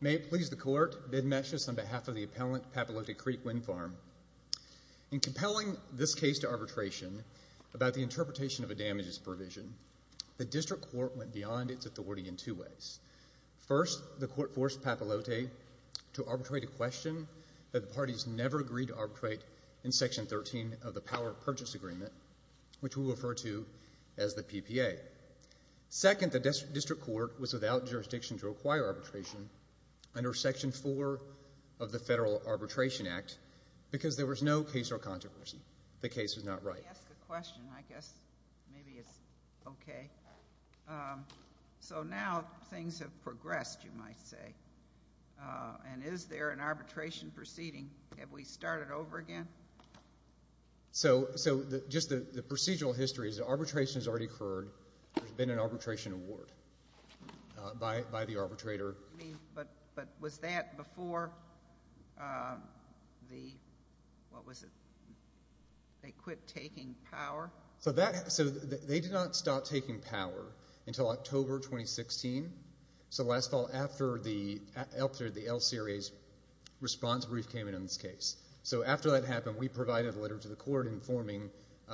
May it please the Court, Bid Meshes on behalf of the Appellant, Papalote Creek Wind Farm. In compelling this case to arbitration about the interpretation of a damages provision, the District Court went beyond its authority in two ways. First, the Court forced Papalote to arbitrate a question that the parties never agreed to arbitrate in Section 13 of the Power of Purchase Agreement, which we refer to as the PPA. Second, the District Court was without jurisdiction to acquire arbitration under Section 4 of the Federal Arbitration Act because there was no case or controversy. The case was not right. Let me ask a question. I guess maybe it's okay. So now things have progressed, you might say. And is there an arbitration proceeding? Have we started over again? So just the procedural history is that arbitration has already occurred. There's been an arbitration award by the arbitrator. But was that before the, what was it, they quit taking power? So they did not stop taking power until October 2016. So last fall after the LCRA's response brief came in on this case. So after that happened, we provided a letter to the Court informing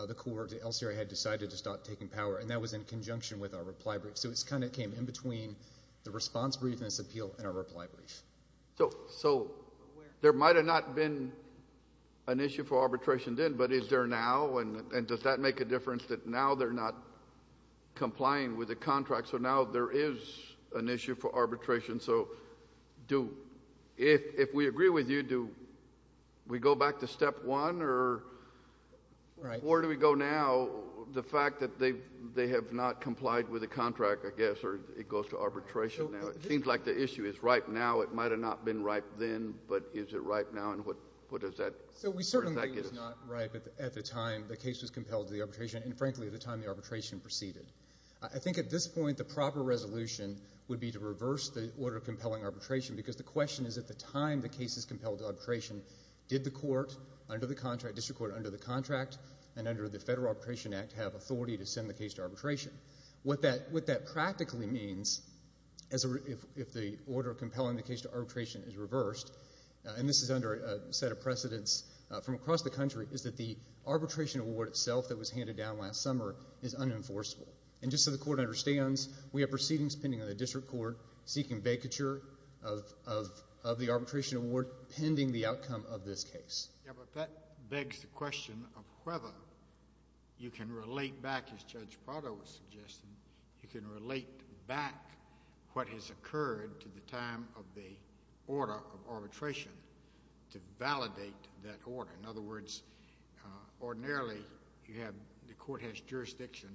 the Court that LCRA had decided to stop taking power, and that was in conjunction with our reply brief. So it kind of came in between the response brief and this appeal and our reply brief. So there might have not been an issue for arbitration then, but is there now? And does that make a difference that now they're not complying with the contract? So now there is an issue for arbitration. So if we agree with you, do we go back to step one, or where do we go now? So the fact that they have not complied with the contract, I guess, or it goes to arbitration now, it seems like the issue is right now. It might have not been right then, but is it right now, and what does that? So we certainly think it was not right at the time the case was compelled to the arbitration, and frankly, at the time the arbitration proceeded. I think at this point, the proper resolution would be to reverse the order of compelling arbitration, because the question is at the time the case is compelled to arbitration, did the court under the contract, district court under the contract, and under the Federal Arbitration Act have authority to send the case to arbitration? What that practically means, if the order of compelling the case to arbitration is reversed, and this is under a set of precedents from across the country, is that the arbitration award itself that was handed down last summer is unenforceable. And just so the court understands, we have proceedings pending on the district court seeking vacature of the arbitration award pending the outcome of this case. Yeah, but that begs the question of whether you can relate back, as Judge Prado was suggesting, you can relate back what has occurred to the time of the order of arbitration to validate that order. In other words, ordinarily, you have, the court has jurisdiction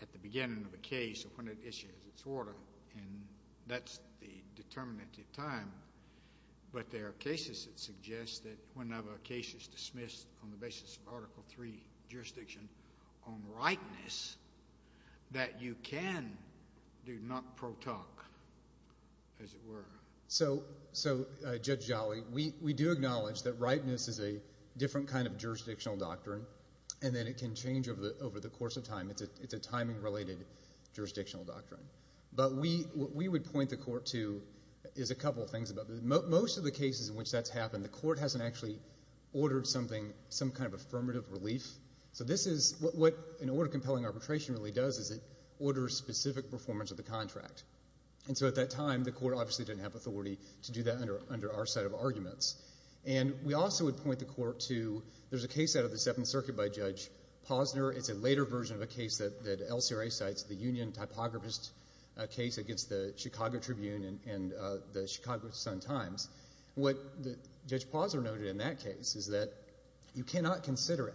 at the beginning of the case when it issues its order, and that's the determinant of time, but there are cases that suggest that whenever a case is dismissed on the basis of Article III jurisdiction on rightness, that you can do not pro-talk, as it were. So Judge Jolly, we do acknowledge that rightness is a different kind of jurisdictional doctrine, and that it can change over the course of time. It's a timing-related jurisdictional doctrine. But what we would point the court to is a couple of things. Most of the cases in which that's happened, the court hasn't actually ordered something, some kind of affirmative relief. So this is, what an order of compelling arbitration really does is it orders specific performance of the contract. And so at that time, the court obviously didn't have authority to do that under our set of arguments. And we also would point the court to, there's a case out of the Seventh Circuit by Judge Posner. It's a later version of a case that LCRA cites, the union typographist case against the Chicago Tribune and the Chicago Sun-Times. What Judge Posner noted in that case is that you cannot consider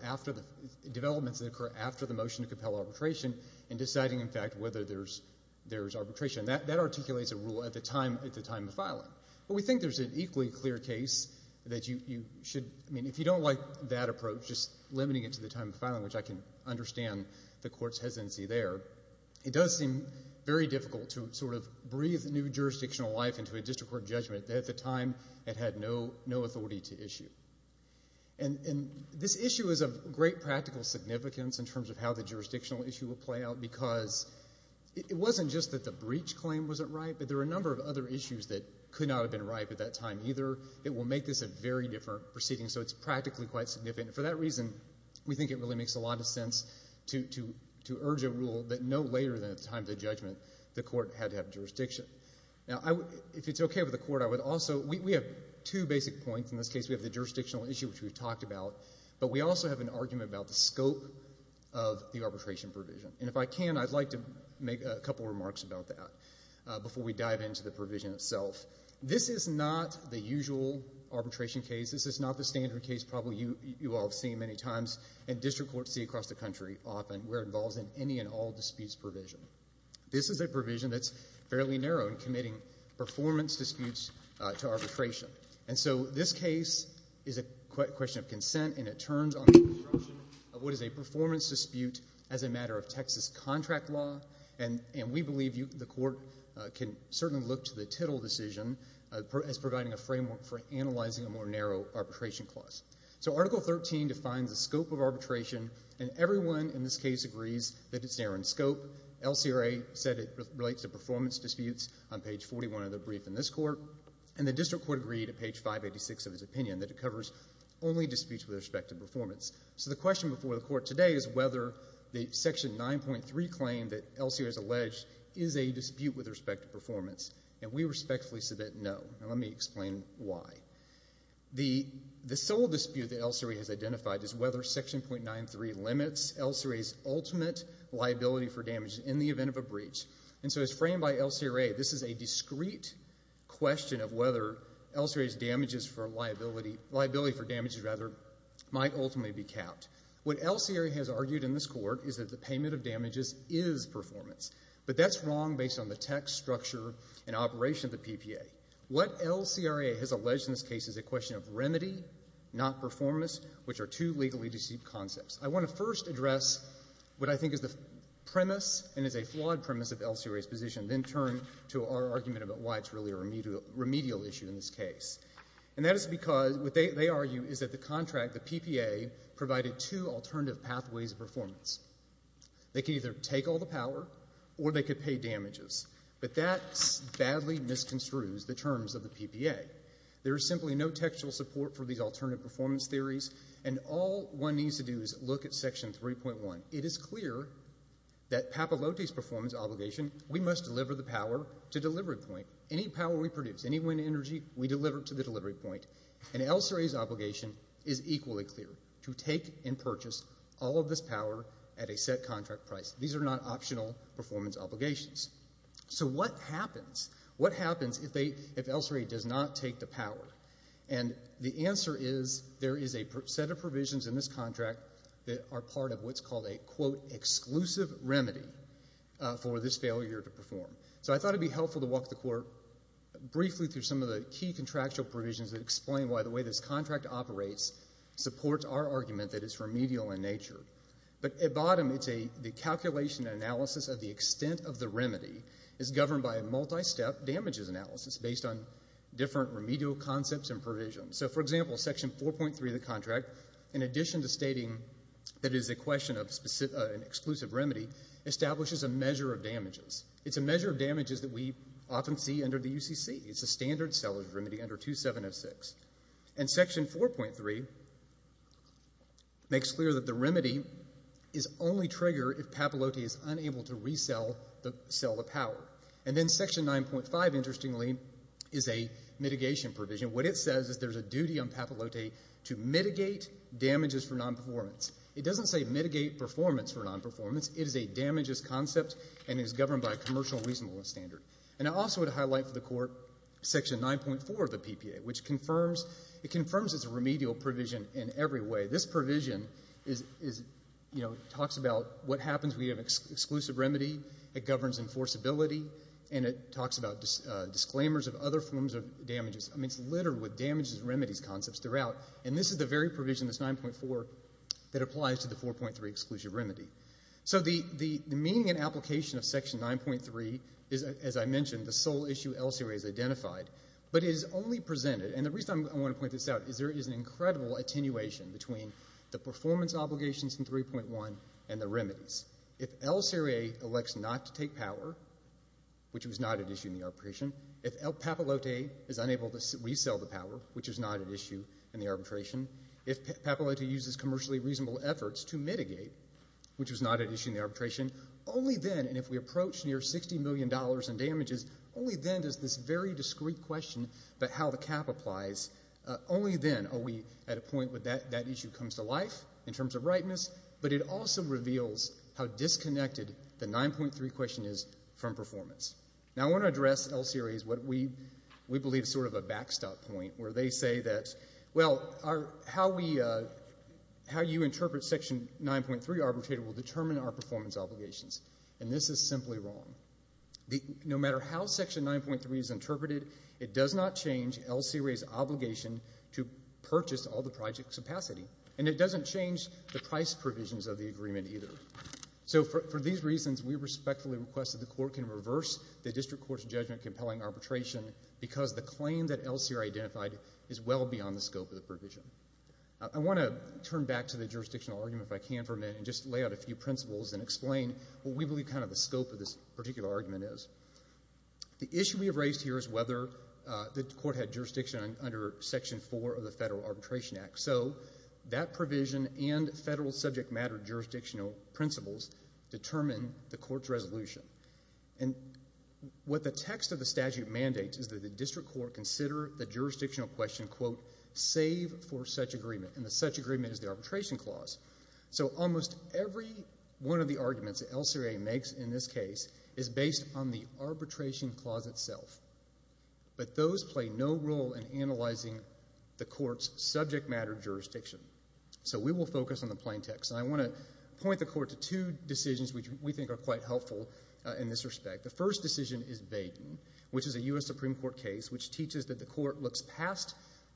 developments that occur after the motion to compel arbitration in deciding, in fact, whether there's arbitration. That articulates a rule at the time of filing. But we think there's an equally clear case that you should, I mean, if you don't like that approach, just limiting it to the time of filing, which I can understand the court's hesitancy there, it does seem very difficult to sort of breathe new jurisdictional life into a district court judgment that at the time it had no authority to issue. And this issue is of great practical significance in terms of how the jurisdictional issue will play out because it wasn't just that the breach claim wasn't right, but there were a number of other issues that could not have been right at that time either that will make this a very different proceeding. So it's practically quite significant. For that reason, we think it really makes a lot of sense to urge a rule that no later than at the time of the judgment, the court had to have jurisdiction. Now, if it's okay with the court, I would also, we have two basic points in this case. We have the jurisdictional issue, which we've talked about, but we also have an argument about the scope of the arbitration provision. And if I can, I'd like to make a couple remarks about that before we dive into the provision itself. This is not the usual arbitration case. This is not the standard case probably you all have seen many times and district courts see across the country often where it involves in any and all disputes provision. This is a provision that's fairly narrow in committing performance disputes to arbitration. And so this case is a question of consent and it turns on the construction of what is a performance dispute as a matter of Texas contract law. And we believe the court can certainly look to the Tittle decision as providing a framework for analyzing a more narrow arbitration clause. So Article 13 defines the scope of arbitration and everyone in this case agrees that it's narrow in scope. LCRA said it relates to performance disputes on page 41 of the brief in this court. And the district court agreed at page 586 of its opinion that it covers only disputes with respect to performance. So the question before the court today is whether the Section 9.3 claim that LCRA has alleged is a dispute with respect to performance. And we respectfully submit no and let me explain why. The sole dispute that LCRA has identified is whether Section 9.3 limits LCRA's ultimate liability for damage in the event of a breach. And so as framed by LCRA, this is a discrete question of whether LCRA's damages for liability for damages, rather, might ultimately be capped. What LCRA has argued in this court is that the payment of damages is performance. But that's wrong based on the text, structure, and operation of the PPA. What LCRA has alleged in this case is a question of remedy, not performance, which are two legally deceitful concepts. I want to first address what I think is the premise and is a flawed premise of LCRA's position, then turn to our argument about why it's really a remedial issue in this case. And that is because what they argue is that the contract, the PPA, provided two alternative pathways of performance. They can either take all the power or they could pay damages. But that badly misconstrues the terms of the PPA. There is simply no textual support for these alternative performance theories and all one needs to do is look at Section 3.1. It is clear that Papalote's performance obligation, we must deliver the power to delivery point. Any power we produce, any wind energy, we deliver it to the delivery point. And LCRA's obligation is equally clear, to take and purchase all of this power at a set contract price. These are not optional performance obligations. So what happens, what happens if they, if LCRA does not take the power? And the answer is there is a set of provisions in this contract that are part of what's called a, quote, exclusive remedy for this failure to perform. So I thought it would be helpful to walk the court briefly through some of the key contractual provisions that explain why the way this contract operates supports our argument that it's remedial in nature. But at bottom, it's a, the calculation analysis of the extent of the remedy is governed by a multi-step damages analysis based on different remedial concepts and provisions. So for example, Section 4.3 of the contract, in addition to stating that it is a question of an exclusive remedy, establishes a measure of damages. It's a measure of damages that we often see under the UCC. It's a standard seller's remedy under 2706. And Section 4.3 makes clear that the remedy is only triggered if Papalote is unable to resell the, sell the power. And then Section 9.5, interestingly, is a mitigation provision. What it says is there's a duty on Papalote to mitigate damages for non-performance. It doesn't say mitigate performance for non-performance, it is a damages concept and is governed by a commercial reasonableness standard. And I also would highlight for the Court Section 9.4 of the PPA, which confirms, it confirms it's a remedial provision in every way. This provision is, you know, talks about what happens when you have an exclusive remedy, it governs enforceability, and it talks about disclaimers of other forms of damages. I mean, it's littered with damages remedies concepts throughout. And this is the very provision, this 9.4, that applies to the 4.3 exclusive remedy. So the, the, the meaning and application of Section 9.3 is, as I mentioned, the sole issue LCRA has identified. But it is only presented, and the reason I want to point this out is there is an incredible attenuation between the performance obligations in 3.1 and the remedies. If LCRA elects not to take power, which was not at issue in the arbitration, if Papalote is unable to resell the power, which is not at issue in the arbitration, if Papalote uses commercially reasonable efforts to mitigate, which was not at issue in the arbitration, only then, and if we approach near $60 million in damages, only then does this very discreet question about how the cap applies, only then are we at a point where that, that issue comes to life in terms of ripeness, but it also reveals how disconnected the 9.3 question is from performance. Now I want to address LCRA's, what we, we believe is sort of a backstop point, where they say that, well, our, how we, how you interpret Section 9.3 arbitrator will determine our performance obligations, and this is simply wrong. No matter how Section 9.3 is interpreted, it does not change LCRA's obligation to purchase all the project capacity, and it doesn't change the price provisions of the agreement either. So for these reasons, we respectfully request that the Court can reverse the District Court's judgment, compelling arbitration, because the claim that LCRA identified is well beyond the scope of the provision. I want to turn back to the jurisdictional argument, if I can for a minute, and just lay out a few principles and explain what we believe kind of the scope of this particular argument is. The issue we have raised here is whether the Court had jurisdiction under Section 4 of the Federal Arbitration Act, so that provision and federal subject matter jurisdictional principles determine the Court's resolution. And what the text of the statute mandates is that the District Court consider the jurisdictional question, quote, save for such agreement, and the such agreement is the arbitration clause. So almost every one of the arguments that LCRA makes in this case is based on the arbitration clause itself, but those play no role in analyzing the Court's subject matter jurisdiction. So we will focus on the plain text, and I want to point the Court to two decisions which we think are quite helpful in this respect. The first decision is Baden, which is a U.S. Supreme Court case which teaches that the Court looks past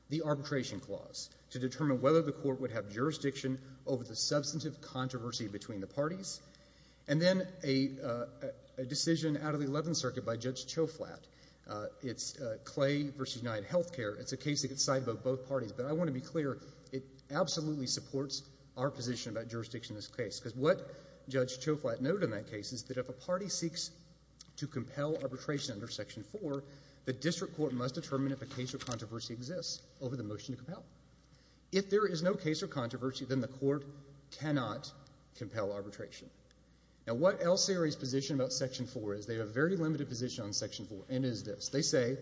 the arbitration clause to determine whether the Court would have jurisdiction over the substantive controversy between the parties. And then a decision out of the Eleventh Circuit by Judge Choflat. It's Clay v. UnitedHealthcare. It's a case that gets side-voted by both parties, but I want to be clear, it absolutely supports our position about jurisdiction in this case, because what Judge Choflat noted in that case is that if a party seeks to compel arbitration under Section 4, the District Court must determine if a case of controversy exists over the motion to compel. If there is no case of controversy, then the Court cannot compel arbitration. Now what LCRA's position about Section 4 is, they have a very limited position on Section 4, and it is this. They say,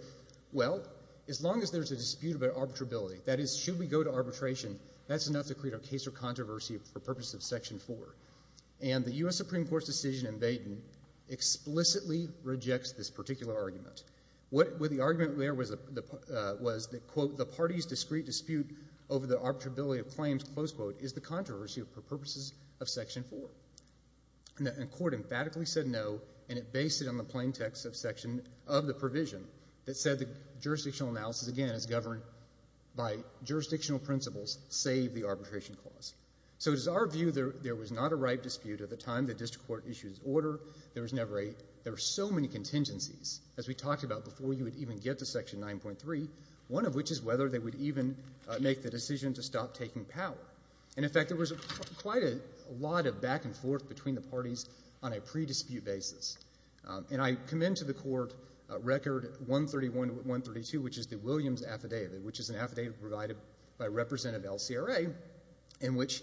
well, as long as there's a dispute about arbitrability, that is, should we go to arbitration, that's enough to create a case of controversy for purposes of Section 4. And the U.S. Supreme Court's decision in Baden explicitly rejects this particular argument. What the argument there was, was that, quote, the parties' discrete dispute over the arbitrability of claims, close quote, is the controversy for purposes of Section 4. And the Court emphatically said no, and it based it on the plain text of Section, of the provision, that said the jurisdictional analysis, again, is governed by jurisdictional principles, save the arbitration clause. So it is our view there was not a right dispute at the time the District Court issued its order. There was never a, there were so many contingencies, as we talked about before you would even get to Section 9.3, one of which is whether they would even make the decision to stop taking power. And, in fact, there was quite a lot of back and forth between the parties on a pre-dispute basis. And I commend to the Court Record 131 to 132, which is the Williams Affidavit, which is an affidavit provided by representative LCRA, in which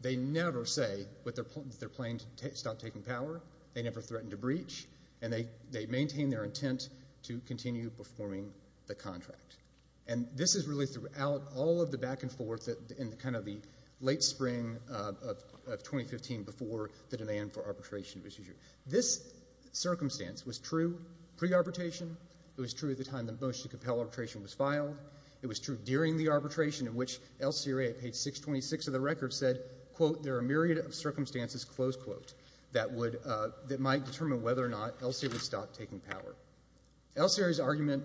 they never say that they're playing to stop taking power, they never threaten to breach, and they maintain their intent to continue performing the contract. And this is really throughout all of the back and forth in kind of the late spring of 2015 before the demand for arbitration was issued. This circumstance was true pre-arbitration, it was true at the time the motion to compel arbitration was filed, it was true during the arbitration in which LCRA, page 626 of the record said, quote, there are a myriad of circumstances, close quote, that would, that might determine whether or not LCRA would stop taking power. LCRA's argument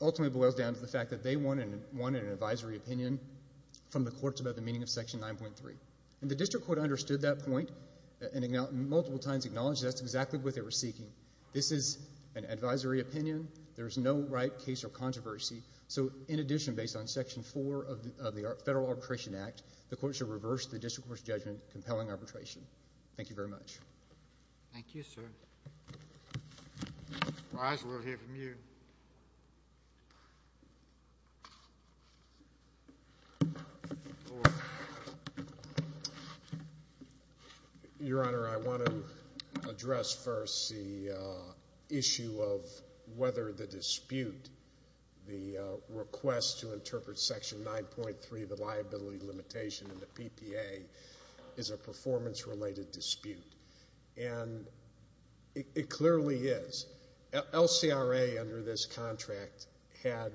ultimately boils down to the fact that they wanted an advisory opinion from the courts about the meaning of Section 9.3. And the district court understood that point and multiple times acknowledged that's exactly what they were seeking. This is an advisory opinion, there's no right case or controversy, so in addition, based on Section 4 of the Federal Arbitration Act, the court should reverse the district court's judgment compelling arbitration. Thank you very much. Thank you, sir. Your Honor, I want to address first the issue of whether the dispute, the request to interpret It clearly is. LCRA under this contract had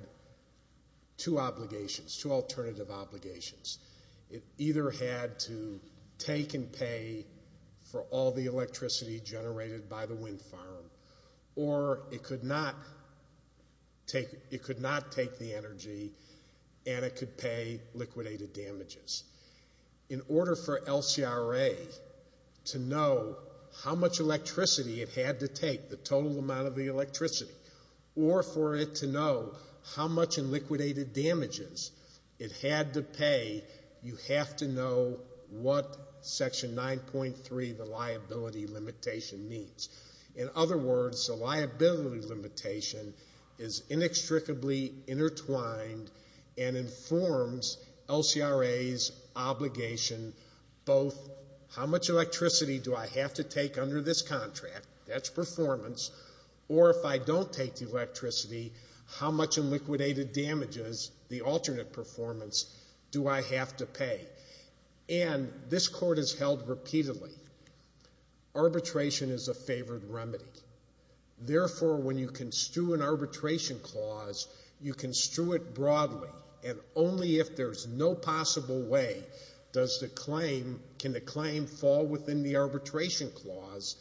two obligations, two alternative obligations. It either had to take and pay for all the electricity generated by the wind farm or it could not take, it could not take the energy and it could pay liquidated damages. In order for LCRA to know how much electricity it had to take, the total amount of the electricity, or for it to know how much in liquidated damages it had to pay, you have to know what Section 9.3, the liability limitation, means. In other words, the liability limitation is inextricably intertwined and informs LCRA's obligation both how much electricity do I have to take under this contract, that's performance, or if I don't take the electricity, how much in liquidated damages, the alternate performance, do I have to pay? And this court has held repeatedly. Arbitration is a favored remedy. Therefore, when you construe an arbitration clause, you construe it broadly and only if there's no possible way does the claim, can the claim fall within the arbitration clause,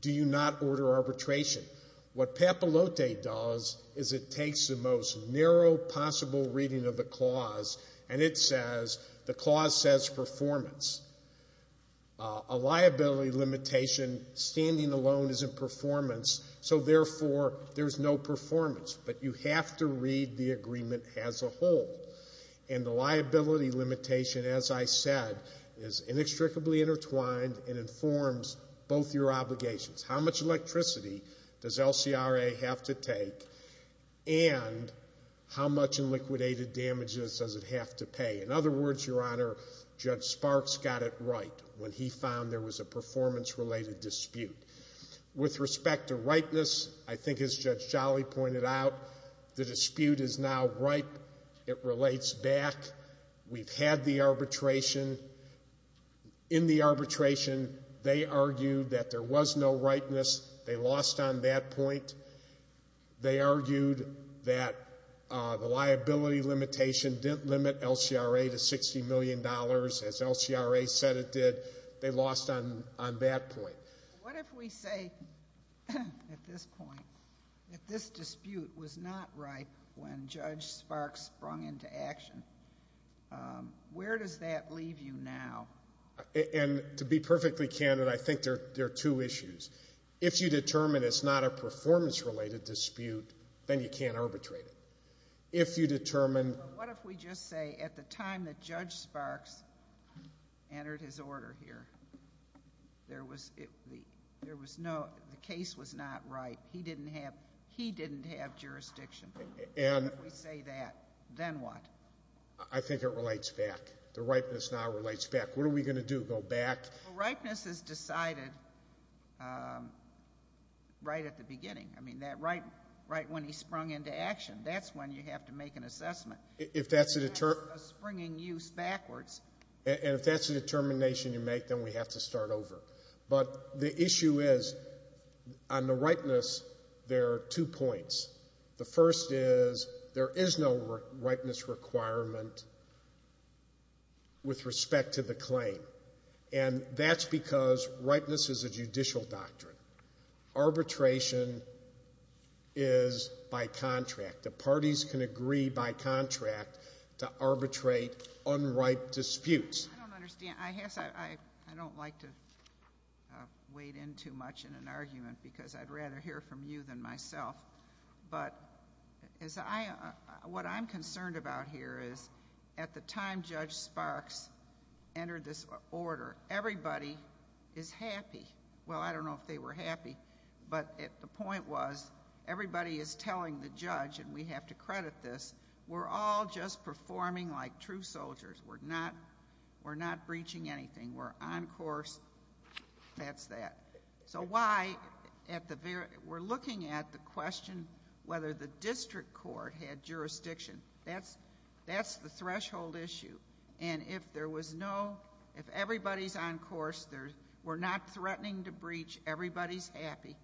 do you not order arbitration. What Papalote does is it takes the most narrow possible reading of the clause and it says, the clause says performance. A liability limitation standing alone is in performance, so therefore there's no performance, but you have to read the agreement as a whole. And the liability limitation, as I said, is inextricably intertwined and informs both your obligations. How much electricity does LCRA have to take and how much in liquidated damages does it have to pay? In other words, Your Honor, Judge Sparks got it right when he found there was a performance-related dispute. With respect to rightness, I think as Judge Jolly pointed out, the dispute is now ripe. It relates back. We've had the arbitration. In the arbitration, they argued that there was no rightness. They lost on that point. They argued that the liability limitation didn't limit LCRA to $60 million, as LCRA said it did. They lost on that point. What if we say, at this point, that this dispute was not ripe when Judge Sparks sprung into action? Where does that leave you now? And to be perfectly candid, I think there are two issues. If you determine it's not a performance-related dispute, then you can't arbitrate it. If you determine... But what if we just say, at the time that Judge Sparks entered his order here, the case was not right. He didn't have jurisdiction. If we say that, then what? I think it relates back. The ripeness now relates back. What are we going to do? Go back? Well, ripeness is decided right at the beginning. I mean, that right when he sprung into action, that's when you have to make an assessment. If that's a... A springing use backwards. And if that's a determination you make, then we have to start over. But the issue is, on the ripeness, there are two points. The first is, there is no ripeness requirement with respect to the claim. And that's because ripeness is a judicial doctrine. Arbitration is by contract. The parties can agree by contract to arbitrate unripe disputes. I don't understand. I don't like to wade in too much in an argument, because I'd rather hear from you than myself. But what I'm concerned about here is, at the time Judge Sparks entered this order, everybody is happy. Well, I don't know if they were happy. But the point was, everybody is telling the judge, and we have to credit this, we're all just performing like true soldiers. We're not breaching anything. We're on course, that's that. So why, we're looking at the question whether the district court had jurisdiction. That's the threshold issue. And if there was no, if everybody's on course, we're not threatening to breach, everybody's happy.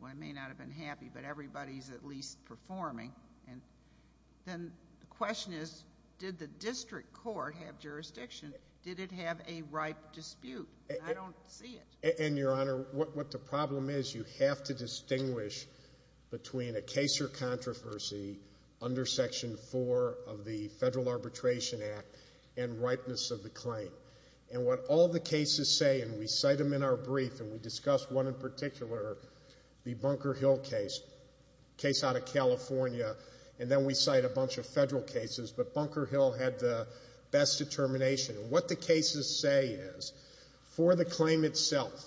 Well, I may not have been happy, but everybody's at least performing. And then the question is, did the district court have jurisdiction? Did it have a ripe dispute? I don't see it. And, Your Honor, what the problem is, you have to distinguish between a case or controversy under Section 4 of the Federal Arbitration Act and ripeness of the claim. And what all the cases say, and we cite them in our brief, and we discussed one in particular, the Bunker Hill case, case out of California, and then we cite a bunch of federal cases. But Bunker Hill had the best determination. And what the cases say is, for the claim itself,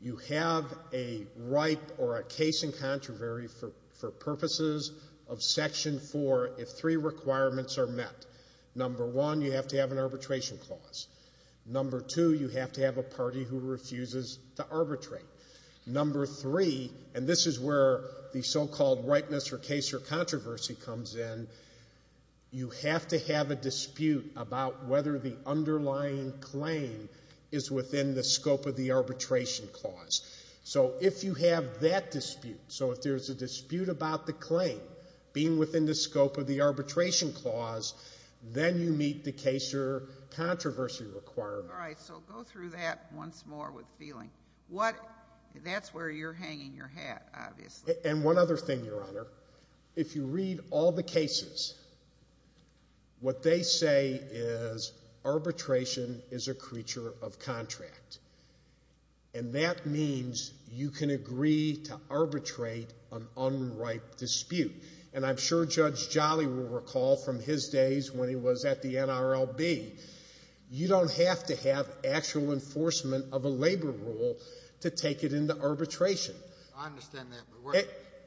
you have a ripe or a case in controversy for purposes of Section 4 if three requirements are met. Number one, you have to have an arbitration clause. Number two, you have to have a party who refuses to arbitrate. Number three, and this is where the so-called ripeness or case or controversy comes in, you have to have a dispute about whether the underlying claim is within the scope of the arbitration clause. So if you have that dispute, so if there's a dispute about the claim being within the scope of the arbitration clause, then you meet the case or controversy requirement. All right. So go through that once more with feeling. That's where you're hanging your hat, obviously. And one other thing, Your Honor. If you read all the cases, what they say is arbitration is a creature of contract. And that means you can agree to arbitrate an unripe dispute. And I'm sure Judge Jolly will recall from his days when he was at the NRLB, you don't have to have actual enforcement of a labor rule to take it into arbitration. I understand that.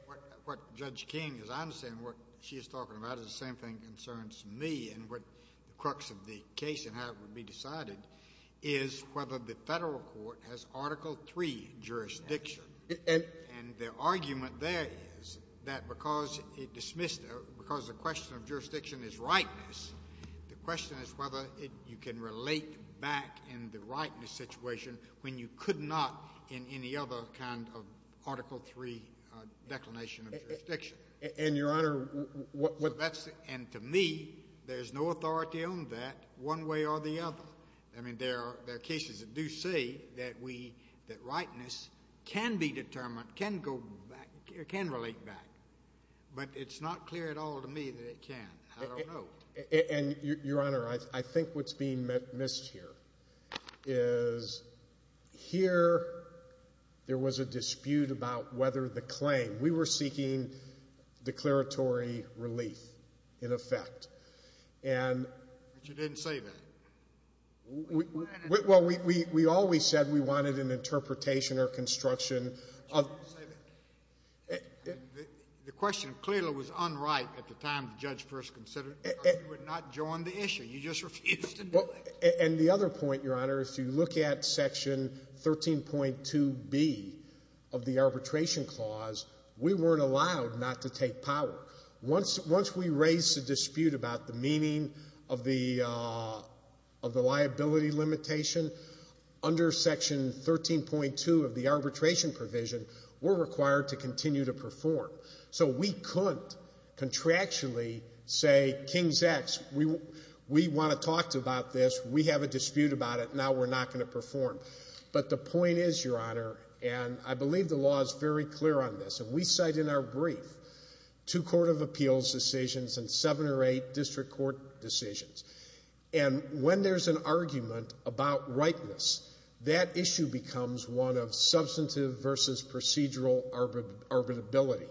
But what Judge King is, I understand what she is talking about is the same thing concerns me and what the crux of the case and how it would be decided is whether the federal court has Article III jurisdiction. And the argument there is that because it dismissed it, because the question of jurisdiction is rightness, the question is whether you can relate back in the rightness situation when you could not in any other kind of Article III declination of jurisdiction. And, Your Honor, what that's... And to me, there's no authority on that one way or the other. I mean, there are cases that do say that we, that rightness can be determined, can go back, can relate back. But it's not clear at all to me that it can. I don't know. And, Your Honor, I think what's being missed here is here there was a dispute about whether the claim... We were seeking declaratory relief, in effect, and... But you didn't say that. Well, we always said we wanted an interpretation or construction of... And the question clearly was unright at the time the judge first considered it, because you had not joined the issue. You just refused to do it. And the other point, Your Honor, if you look at Section 13.2b of the Arbitration Clause, we weren't allowed not to take power. Once we raised the dispute about the meaning of the liability limitation, under Section 13.2 of the Arbitration Provision, we're required to continue to perform. So we couldn't contractually say, King's X, we want to talk about this. We have a dispute about it. Now we're not going to perform. But the point is, Your Honor, and I believe the law is very clear on this, and we cite in our brief two Court of Appeals decisions and seven or eight District Court decisions. And when there's an argument about rightness, that issue becomes one of substantive versus procedural arbitrability.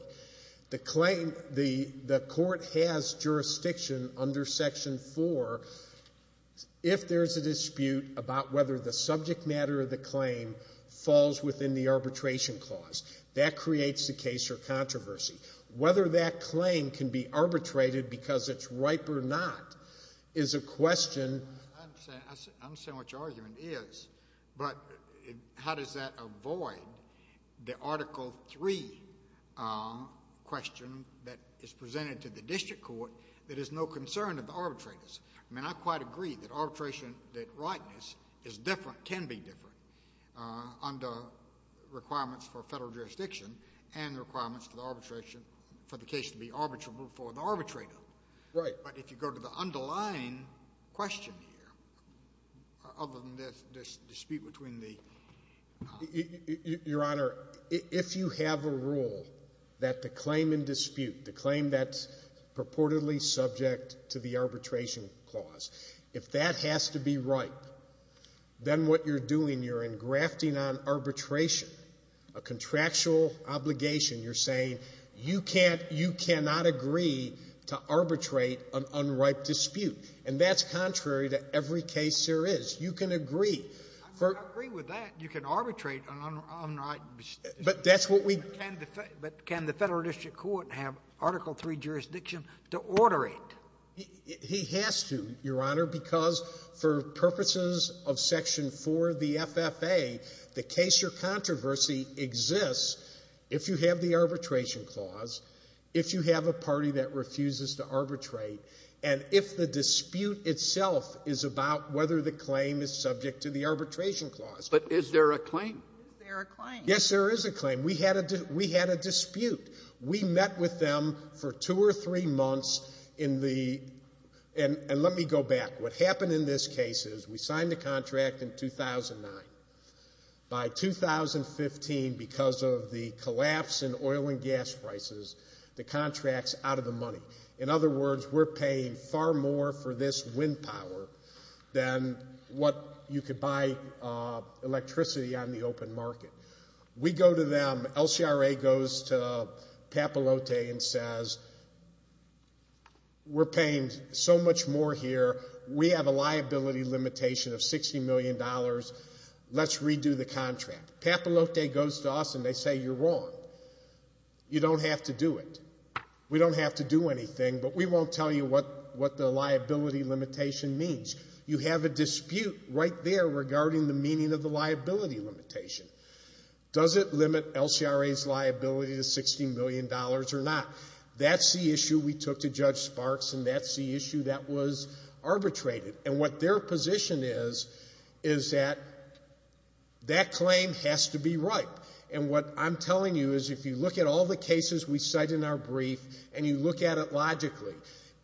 The claim, the Court has jurisdiction under Section 4 if there's a dispute about whether the subject matter of the claim falls within the Arbitration Clause. That creates a case or controversy. Whether that claim can be arbitrated because it's ripe or not is a question. I understand what your argument is, but how does that avoid the Article 3 question that is presented to the District Court that is no concern of the arbitrators? I mean, I quite agree that arbitration, that rightness, is different, can be different, under requirements for federal jurisdiction and the requirements for the case to be arbitrable for the arbitrator. Right. But if you go to the underlying question here, other than this dispute between the… Your Honor, if you have a rule that the claim in dispute, the claim that's purportedly subject to the Arbitration Clause, if that has to be ripe, then what you're doing, you're engrafting on arbitration a contractual obligation. You're saying you can't, you cannot agree to arbitrate an unripe dispute. And that's contrary to every case there is. You can agree. I mean, I agree with that. You can arbitrate an unripe dispute. But that's what we… But can the Federal District Court have Article III jurisdiction to order it? He has to, Your Honor, because for purposes of Section 4 of the FFA, the case or controversy exists if you have the Arbitration Clause, if you have a party that refuses to arbitrate, and if the dispute itself is about whether the claim is subject to the Arbitration Clause. But is there a claim? Yes, there is a claim. We had a dispute. We met with them for two or three months in the… And let me go back. What happened in this case is we signed the contract in 2009. By 2015, because of the collapse in oil and gas prices, the contract's out of the money. In other words, we're paying far more for this wind power than what you could buy electricity on the open market. We go to them. LCRA goes to Papalote and says, we're paying so much more here. We have a liability limitation of $60 million. Let's redo the contract. Papalote goes to us and they say, you're wrong. You don't have to do it. We don't have to do anything, but we won't tell you what the liability limitation means. You have a dispute right there regarding the meaning of the liability limitation. Does it limit LCRA's liability to $60 million or not? That's the issue we took to Judge Sparks and that's the issue that was arbitrated. And what their position is, is that that claim has to be ripe. And what I'm telling you is if you look at all the cases we cite in our brief and you look at it logically,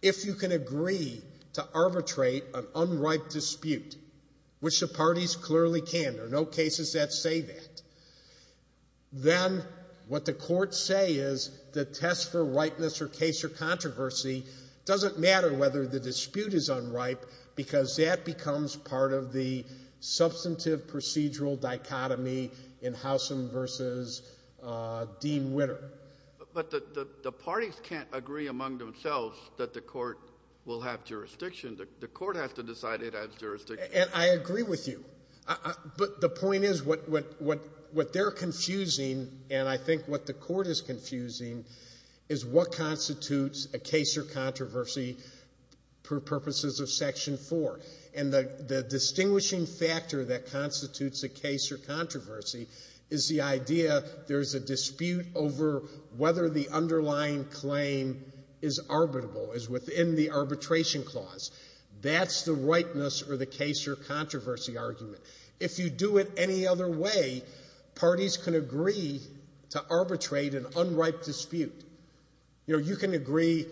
if you can agree to arbitrate an unripe dispute, which the parties clearly can, there are no cases that say that, then what the courts say is the test for ripeness or case or controversy doesn't matter whether the dispute is unripe, because that becomes part of the substantive procedural dichotomy in Howsam versus Dean Witter. But the parties can't agree among themselves that the court will have jurisdiction. The court has to decide it has jurisdiction. And I agree with you. But the point is what they're confusing and I think what the court is confusing is what constitutes a case or controversy for purposes of Section 4. And the distinguishing factor that constitutes a case or controversy is the idea there's a dispute over whether the underlying claim is arbitrable, is within the arbitration clause. That's the ripeness or the case or controversy argument. If you do it any other way, parties can agree to arbitrate an unripe dispute. You know, you can agree,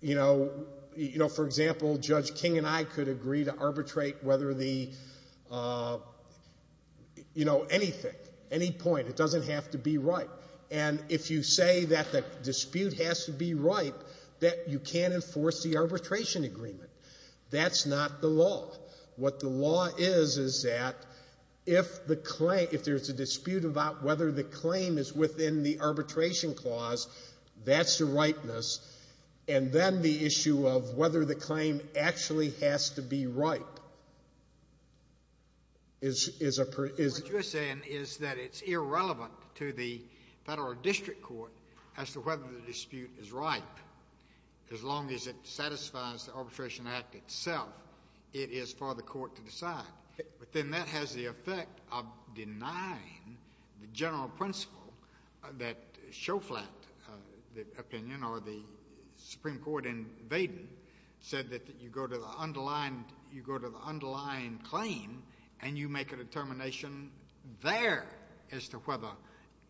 you know, for example, Judge King and I could agree to arbitrate whether the, you know, anything, any point, it doesn't have to be ripe. And if you say that the dispute has to be ripe, that you can't enforce the arbitration agreement. That's not the law. What the law is, is that if the claim, if there's a dispute about whether the claim is within the arbitration clause, that's the ripeness. And then the issue of whether the claim actually has to be ripe is, is a, is... What you're saying is that it's irrelevant to the Federal District Court as to whether the dispute is ripe. As long as it satisfies the Arbitration Act itself, it is for the court to decide. But then that has the effect of denying the general principle that Shoflat, the opinion or the Supreme Court in Vaden, said that you go to the underlying, you go to the underlying claim and you make a determination there as to whether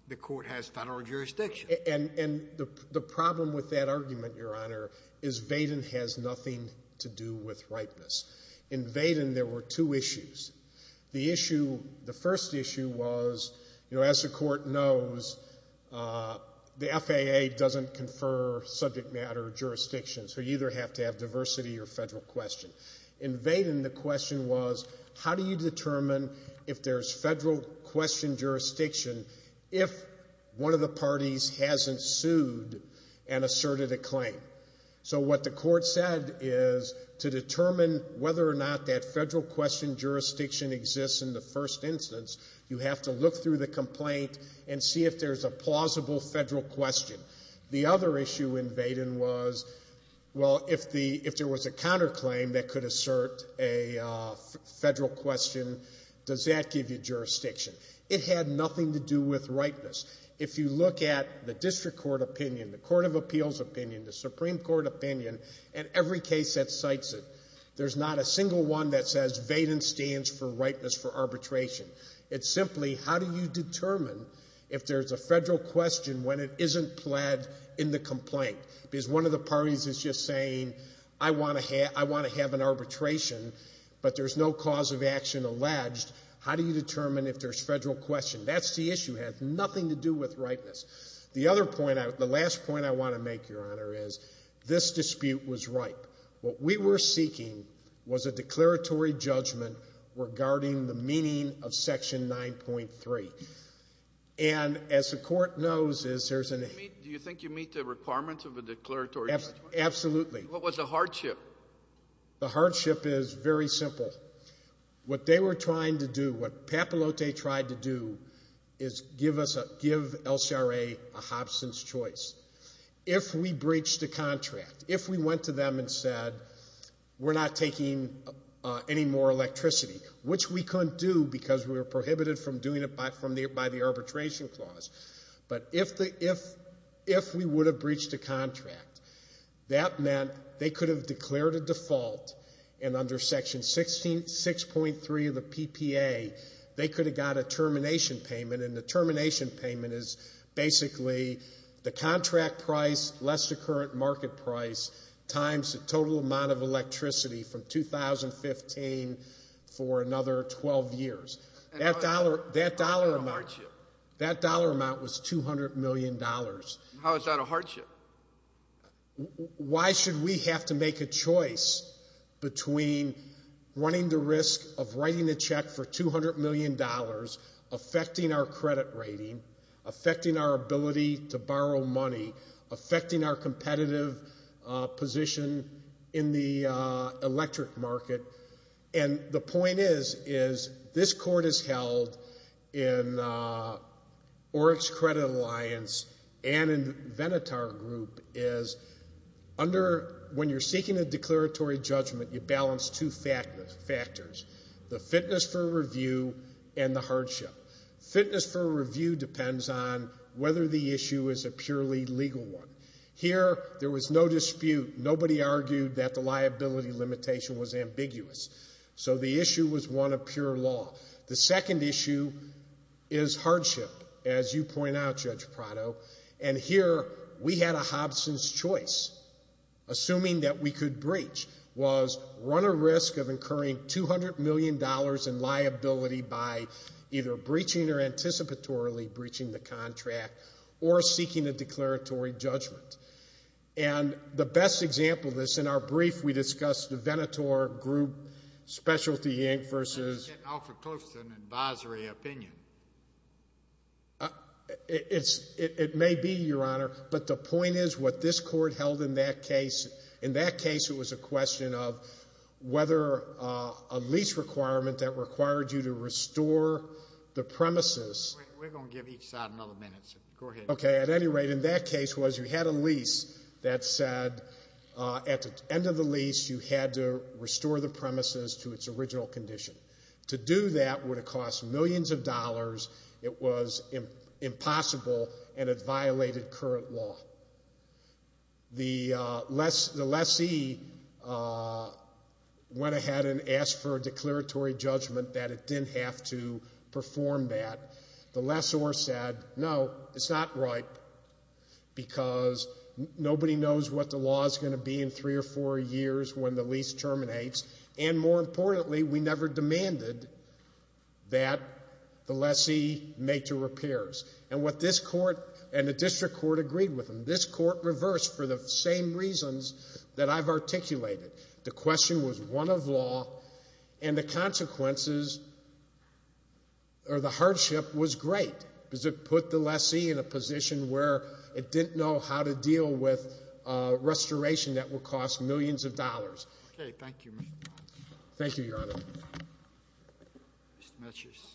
the court has federal jurisdiction. And, and the problem with that argument, Your Honor, is Vaden has nothing to do with ripeness. In Vaden, there were two issues. The issue, the first issue was, you know, as the court knows, the FAA doesn't confer subject matter jurisdictions. So you either have to have diversity or federal question. In Vaden, the question was, how do you determine if there's federal question jurisdiction if one of the parties hasn't sued and asserted a claim? So what the court said is to determine whether or not that federal question jurisdiction exists in the first instance, you have to look through the complaint and see if there's a plausible federal question. The other issue in Vaden was, well, if the, if there was a counterclaim that could assert a federal question, does that give you jurisdiction? It had nothing to do with ripeness. If you look at the District Court opinion, the Court of Appeals opinion, the Supreme Court opinion, and every case that cites it, there's not a single one that says Vaden stands for ripeness for arbitration. It's simply, how do you determine if there's a federal question when it isn't pled in the complaint? Because one of the parties is just saying, I want to have an arbitration, but there's no cause of action alleged. How do you determine if there's federal question? That's the issue. It has nothing to do with ripeness. The other point, the last point I want to make, Your Honor, is this dispute was ripe. What we were seeking was a declaratory judgment regarding the meaning of Section 9.3. And as the Court knows, is there's an... Do you think you meet the requirements of a declaratory judgment? Absolutely. What was the hardship? The hardship is very simple. What they were trying to do, what Papalote tried to do, is give us, give LCRA a Hobson's choice. If we breached a contract, if we went to them and said, we're not taking any more electricity, which we couldn't do because we were prohibited from doing it by the arbitration clause. But if we would have breached a contract, that meant they could have declared a default and under Section 6.3 of the PPA, they could have got a termination payment. And the termination payment is basically the contract price, less the current market price, times the total amount of electricity from 2015 for another 12 years. That dollar amount was $200 million. How is that a hardship? Why should we have to make a choice between running the risk of writing a check for $200 million, affecting our credit rating, affecting our ability to borrow money, affecting our competitive position in the electric market? And the point is, is this Court has held in Oryx Credit Alliance and in Venatar Group, is under, when you're seeking a declaratory judgment, you balance two factors. The fitness for review and the hardship. Fitness for review depends on whether the issue is a purely legal one. Here, there was no dispute. Nobody argued that the liability limitation was ambiguous. So the issue was one of pure law. The second issue is hardship, as you point out, Judge Prado. And here, we had a Hobson's choice, assuming that we could breach, was run a risk of incurring $200 million in liability by either breaching or anticipatorily breaching the contract or seeking a declaratory judgment. And the best example of this, in our brief, we discussed the Venatar Group specialty, Yank versus... I'm getting awfully close to an advisory opinion. It may be, Your Honor, but the point is what this Court held in that case, it was a question of whether a lease requirement that required you to restore the premises... We're going to give each side another minute, so go ahead. Okay, at any rate, in that case was you had a lease that said at the end of the lease, you had to restore the premises to its original condition. To do that would have cost millions of dollars. It was impossible and it violated current law. The lessee went ahead and asked for a declaratory judgment that it didn't have to perform that. The lessor said, no, it's not right because nobody knows what the law is going to be in three or four years when the lease terminates. And more importantly, we never demanded that the lessee make the repairs. And what this Court and the District Court agreed with them, this Court reversed for the same reasons that I've articulated. The question was one of law and the consequences or the hardship was great because it put the lessee in a position where it didn't know how to deal with a restoration that would cost millions of dollars. Okay, thank you. Thank you, Your Honor. Mr. Mitchers.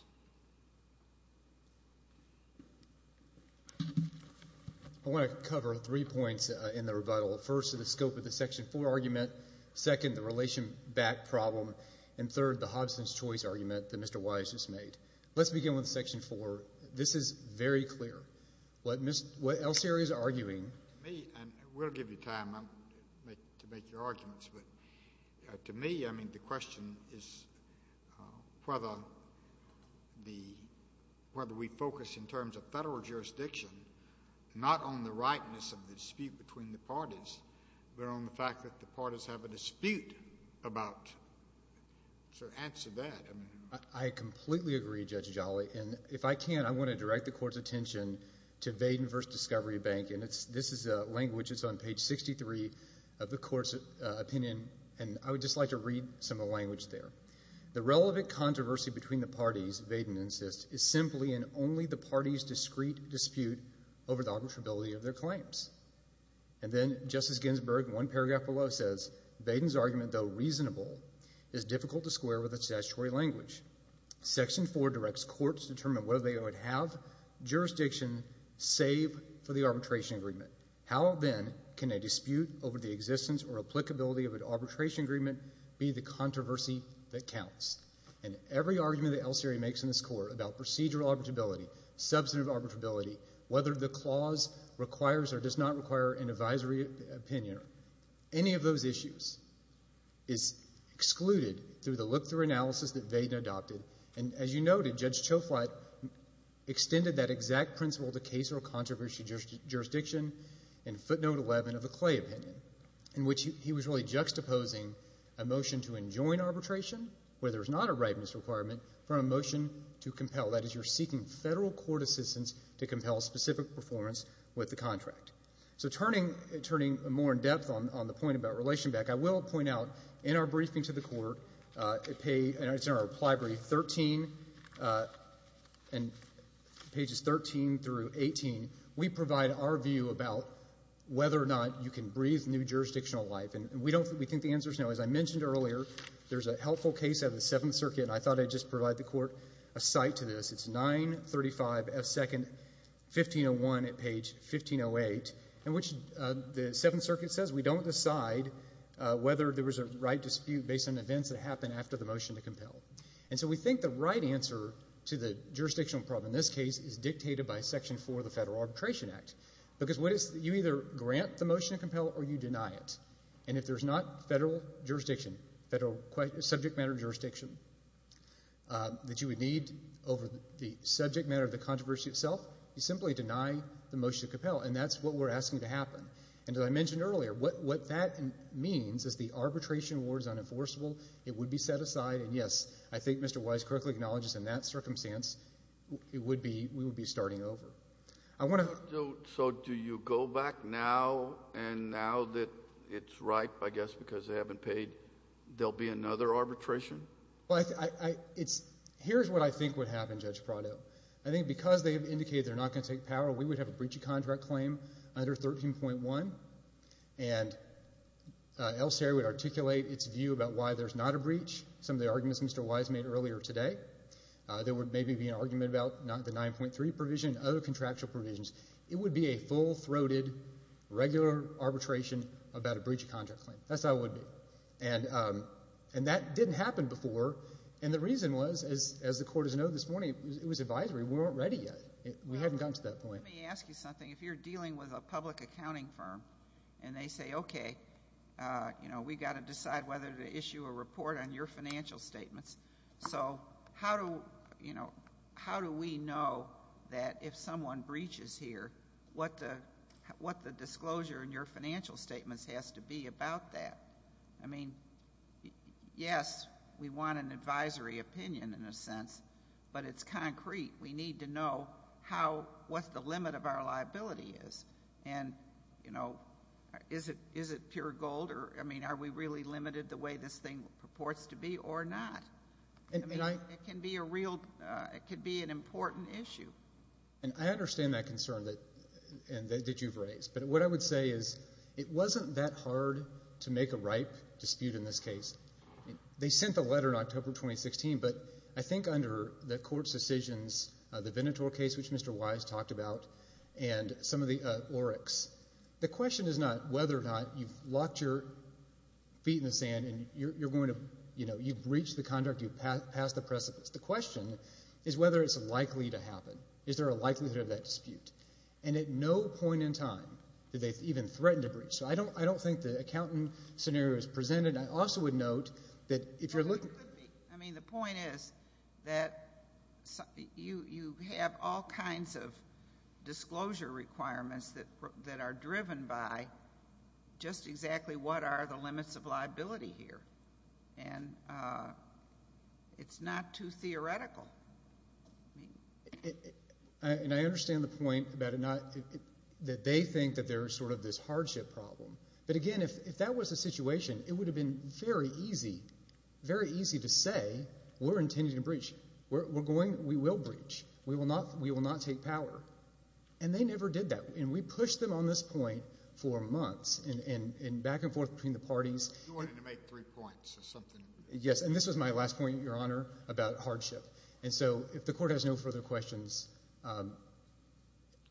I want to cover three points in the rebuttal. First, the scope of the Section 4 argument. Second, the relation back problem. And third, the Hobson's Choice argument that Mr. Wise just made. Let's begin with Section 4. This is very clear. What Elserio is arguing... To me, and we'll give you time to make your arguments, but to me, I mean, the question is whether we focus in terms of federal jurisdiction, not on the rightness of the dispute between the parties, but on the fact that the parties have a dispute about... So answer that. I completely agree, Judge Jolly. And if I can, I want to direct the Court's attention to Vaden v. Discovery Bank. And this is a language that's on page 63 of the Court's opinion, and I would just like to read some of the language there. The relevant controversy between the parties, Vaden insists, is simply in only the parties' discreet dispute over the arbitrability of their claims. And then Justice Ginsburg, in one paragraph below, says, Vaden's argument, though reasonable, is difficult to square with its statutory language. Section 4 directs courts to determine whether they would have jurisdiction, save for the arbitration agreement. How, then, can a dispute over the existence or applicability of an arbitration agreement be the controversy that counts? And every argument the LCA makes in this Court about procedural arbitrability, substantive arbitrability, whether the clause requires or does not require an advisory opinion or any of those issues is excluded through the look-through analysis that Vaden adopted. And as you noted, Judge Choflat extended that exact principle to case or controversy jurisdiction in footnote 11 of the Clay opinion, in which he was really juxtaposing a motion to enjoin arbitration, where there's not a rightness requirement, from a motion to compel. That is, you're seeking federal court assistance to compel specific performance with the contract. So turning more in depth on the point about relation back, I will point out, in our briefing to the Court, and it's in our reply brief, and pages 13 through 18, we provide our view about whether or not you can breathe new jurisdictional life. And we think the answer's no. As I mentioned earlier, there's a helpful case out of the Seventh Circuit, and I thought I'd just provide the Court a cite to this. It's 935 F. Second, 1501 at page 1508, in which the Seventh Circuit says we don't decide whether there was a right dispute based on events that happened after the motion to compel. And so we think the right answer to the jurisdictional problem in this case is dictated by Section 4 of the Federal Arbitration Act. Because you either grant the motion to compel, or you deny it. And if there's not federal jurisdiction, federal subject matter jurisdiction, that you would need over the subject matter of the controversy itself, you simply deny the motion to compel. And that's what we're asking to happen. And as I mentioned earlier, what that means is the arbitration award is unenforceable, it would be set aside, and yes, I think Mr. Wise correctly acknowledges in that circumstance, we would be starting over. I want to... So do you go back now, and now that it's right, I guess, because they haven't paid, there'll be another arbitration? Well, here's what I think would happen, Judge Prado. I think because they have indicated they're not going to take power, we would have a breach of contract claim under 13.1. And El Seri would articulate its view about why there's not a breach. Some of the arguments Mr. Wise made earlier today, there would maybe be an argument about not the 9.3 provision, other contractual provisions. It would be a full-throated, regular arbitration about a breach of contract claim. That's how it would be. And that didn't happen before. And the reason was, as the court has known this morning, it was advisory, we weren't ready yet. We hadn't gotten to that point. Let me ask you something. If you're dealing with a public accounting firm, and they say, okay, you know, we got to decide whether to issue a report on your financial statements. So how do we know that if someone breaches here, what the disclosure in your financial statements has to be about that? I mean, yes, we want an advisory opinion in a sense, but it's concrete. We need to know what the limit of our liability is. And is it pure gold? I mean, are we really limited the way this thing purports to be or not? I mean, it can be a real, it could be an important issue. And I understand that concern that you've raised. But what I would say is, it wasn't that hard to make a ripe dispute in this case. They sent the letter in October 2016, but I think under the court's decisions, the Venator case, which Mr. Wise talked about, and some of the ORECs, the question is not whether or not you've locked your feet in the sand and you've breached the contract, you've passed the precipice. The question is whether it's likely to happen. Is there a likelihood of that dispute? And at no point in time did they even threaten to breach. So I don't think the accountant scenario is presented. I also would note that if you're looking... Well, it could be. I mean, the point is that you have all kinds of disclosure requirements that are driven by just exactly what are the limits of liability here. And it's not too theoretical. And I understand the point about it not, that they think that there's sort of this hardship problem. But again, if that was the situation, it would have been very easy, very easy to say, we're intending to breach. We're going, we will breach. We will not take power. And they never did that. And we pushed them on this point for months and back and forth between the parties. You wanted to make three points or something? Yes. And this was my last point, Your Honor, about hardship. And so if the court has no further questions...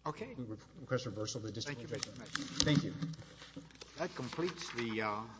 Okay. Thank you. That completes the...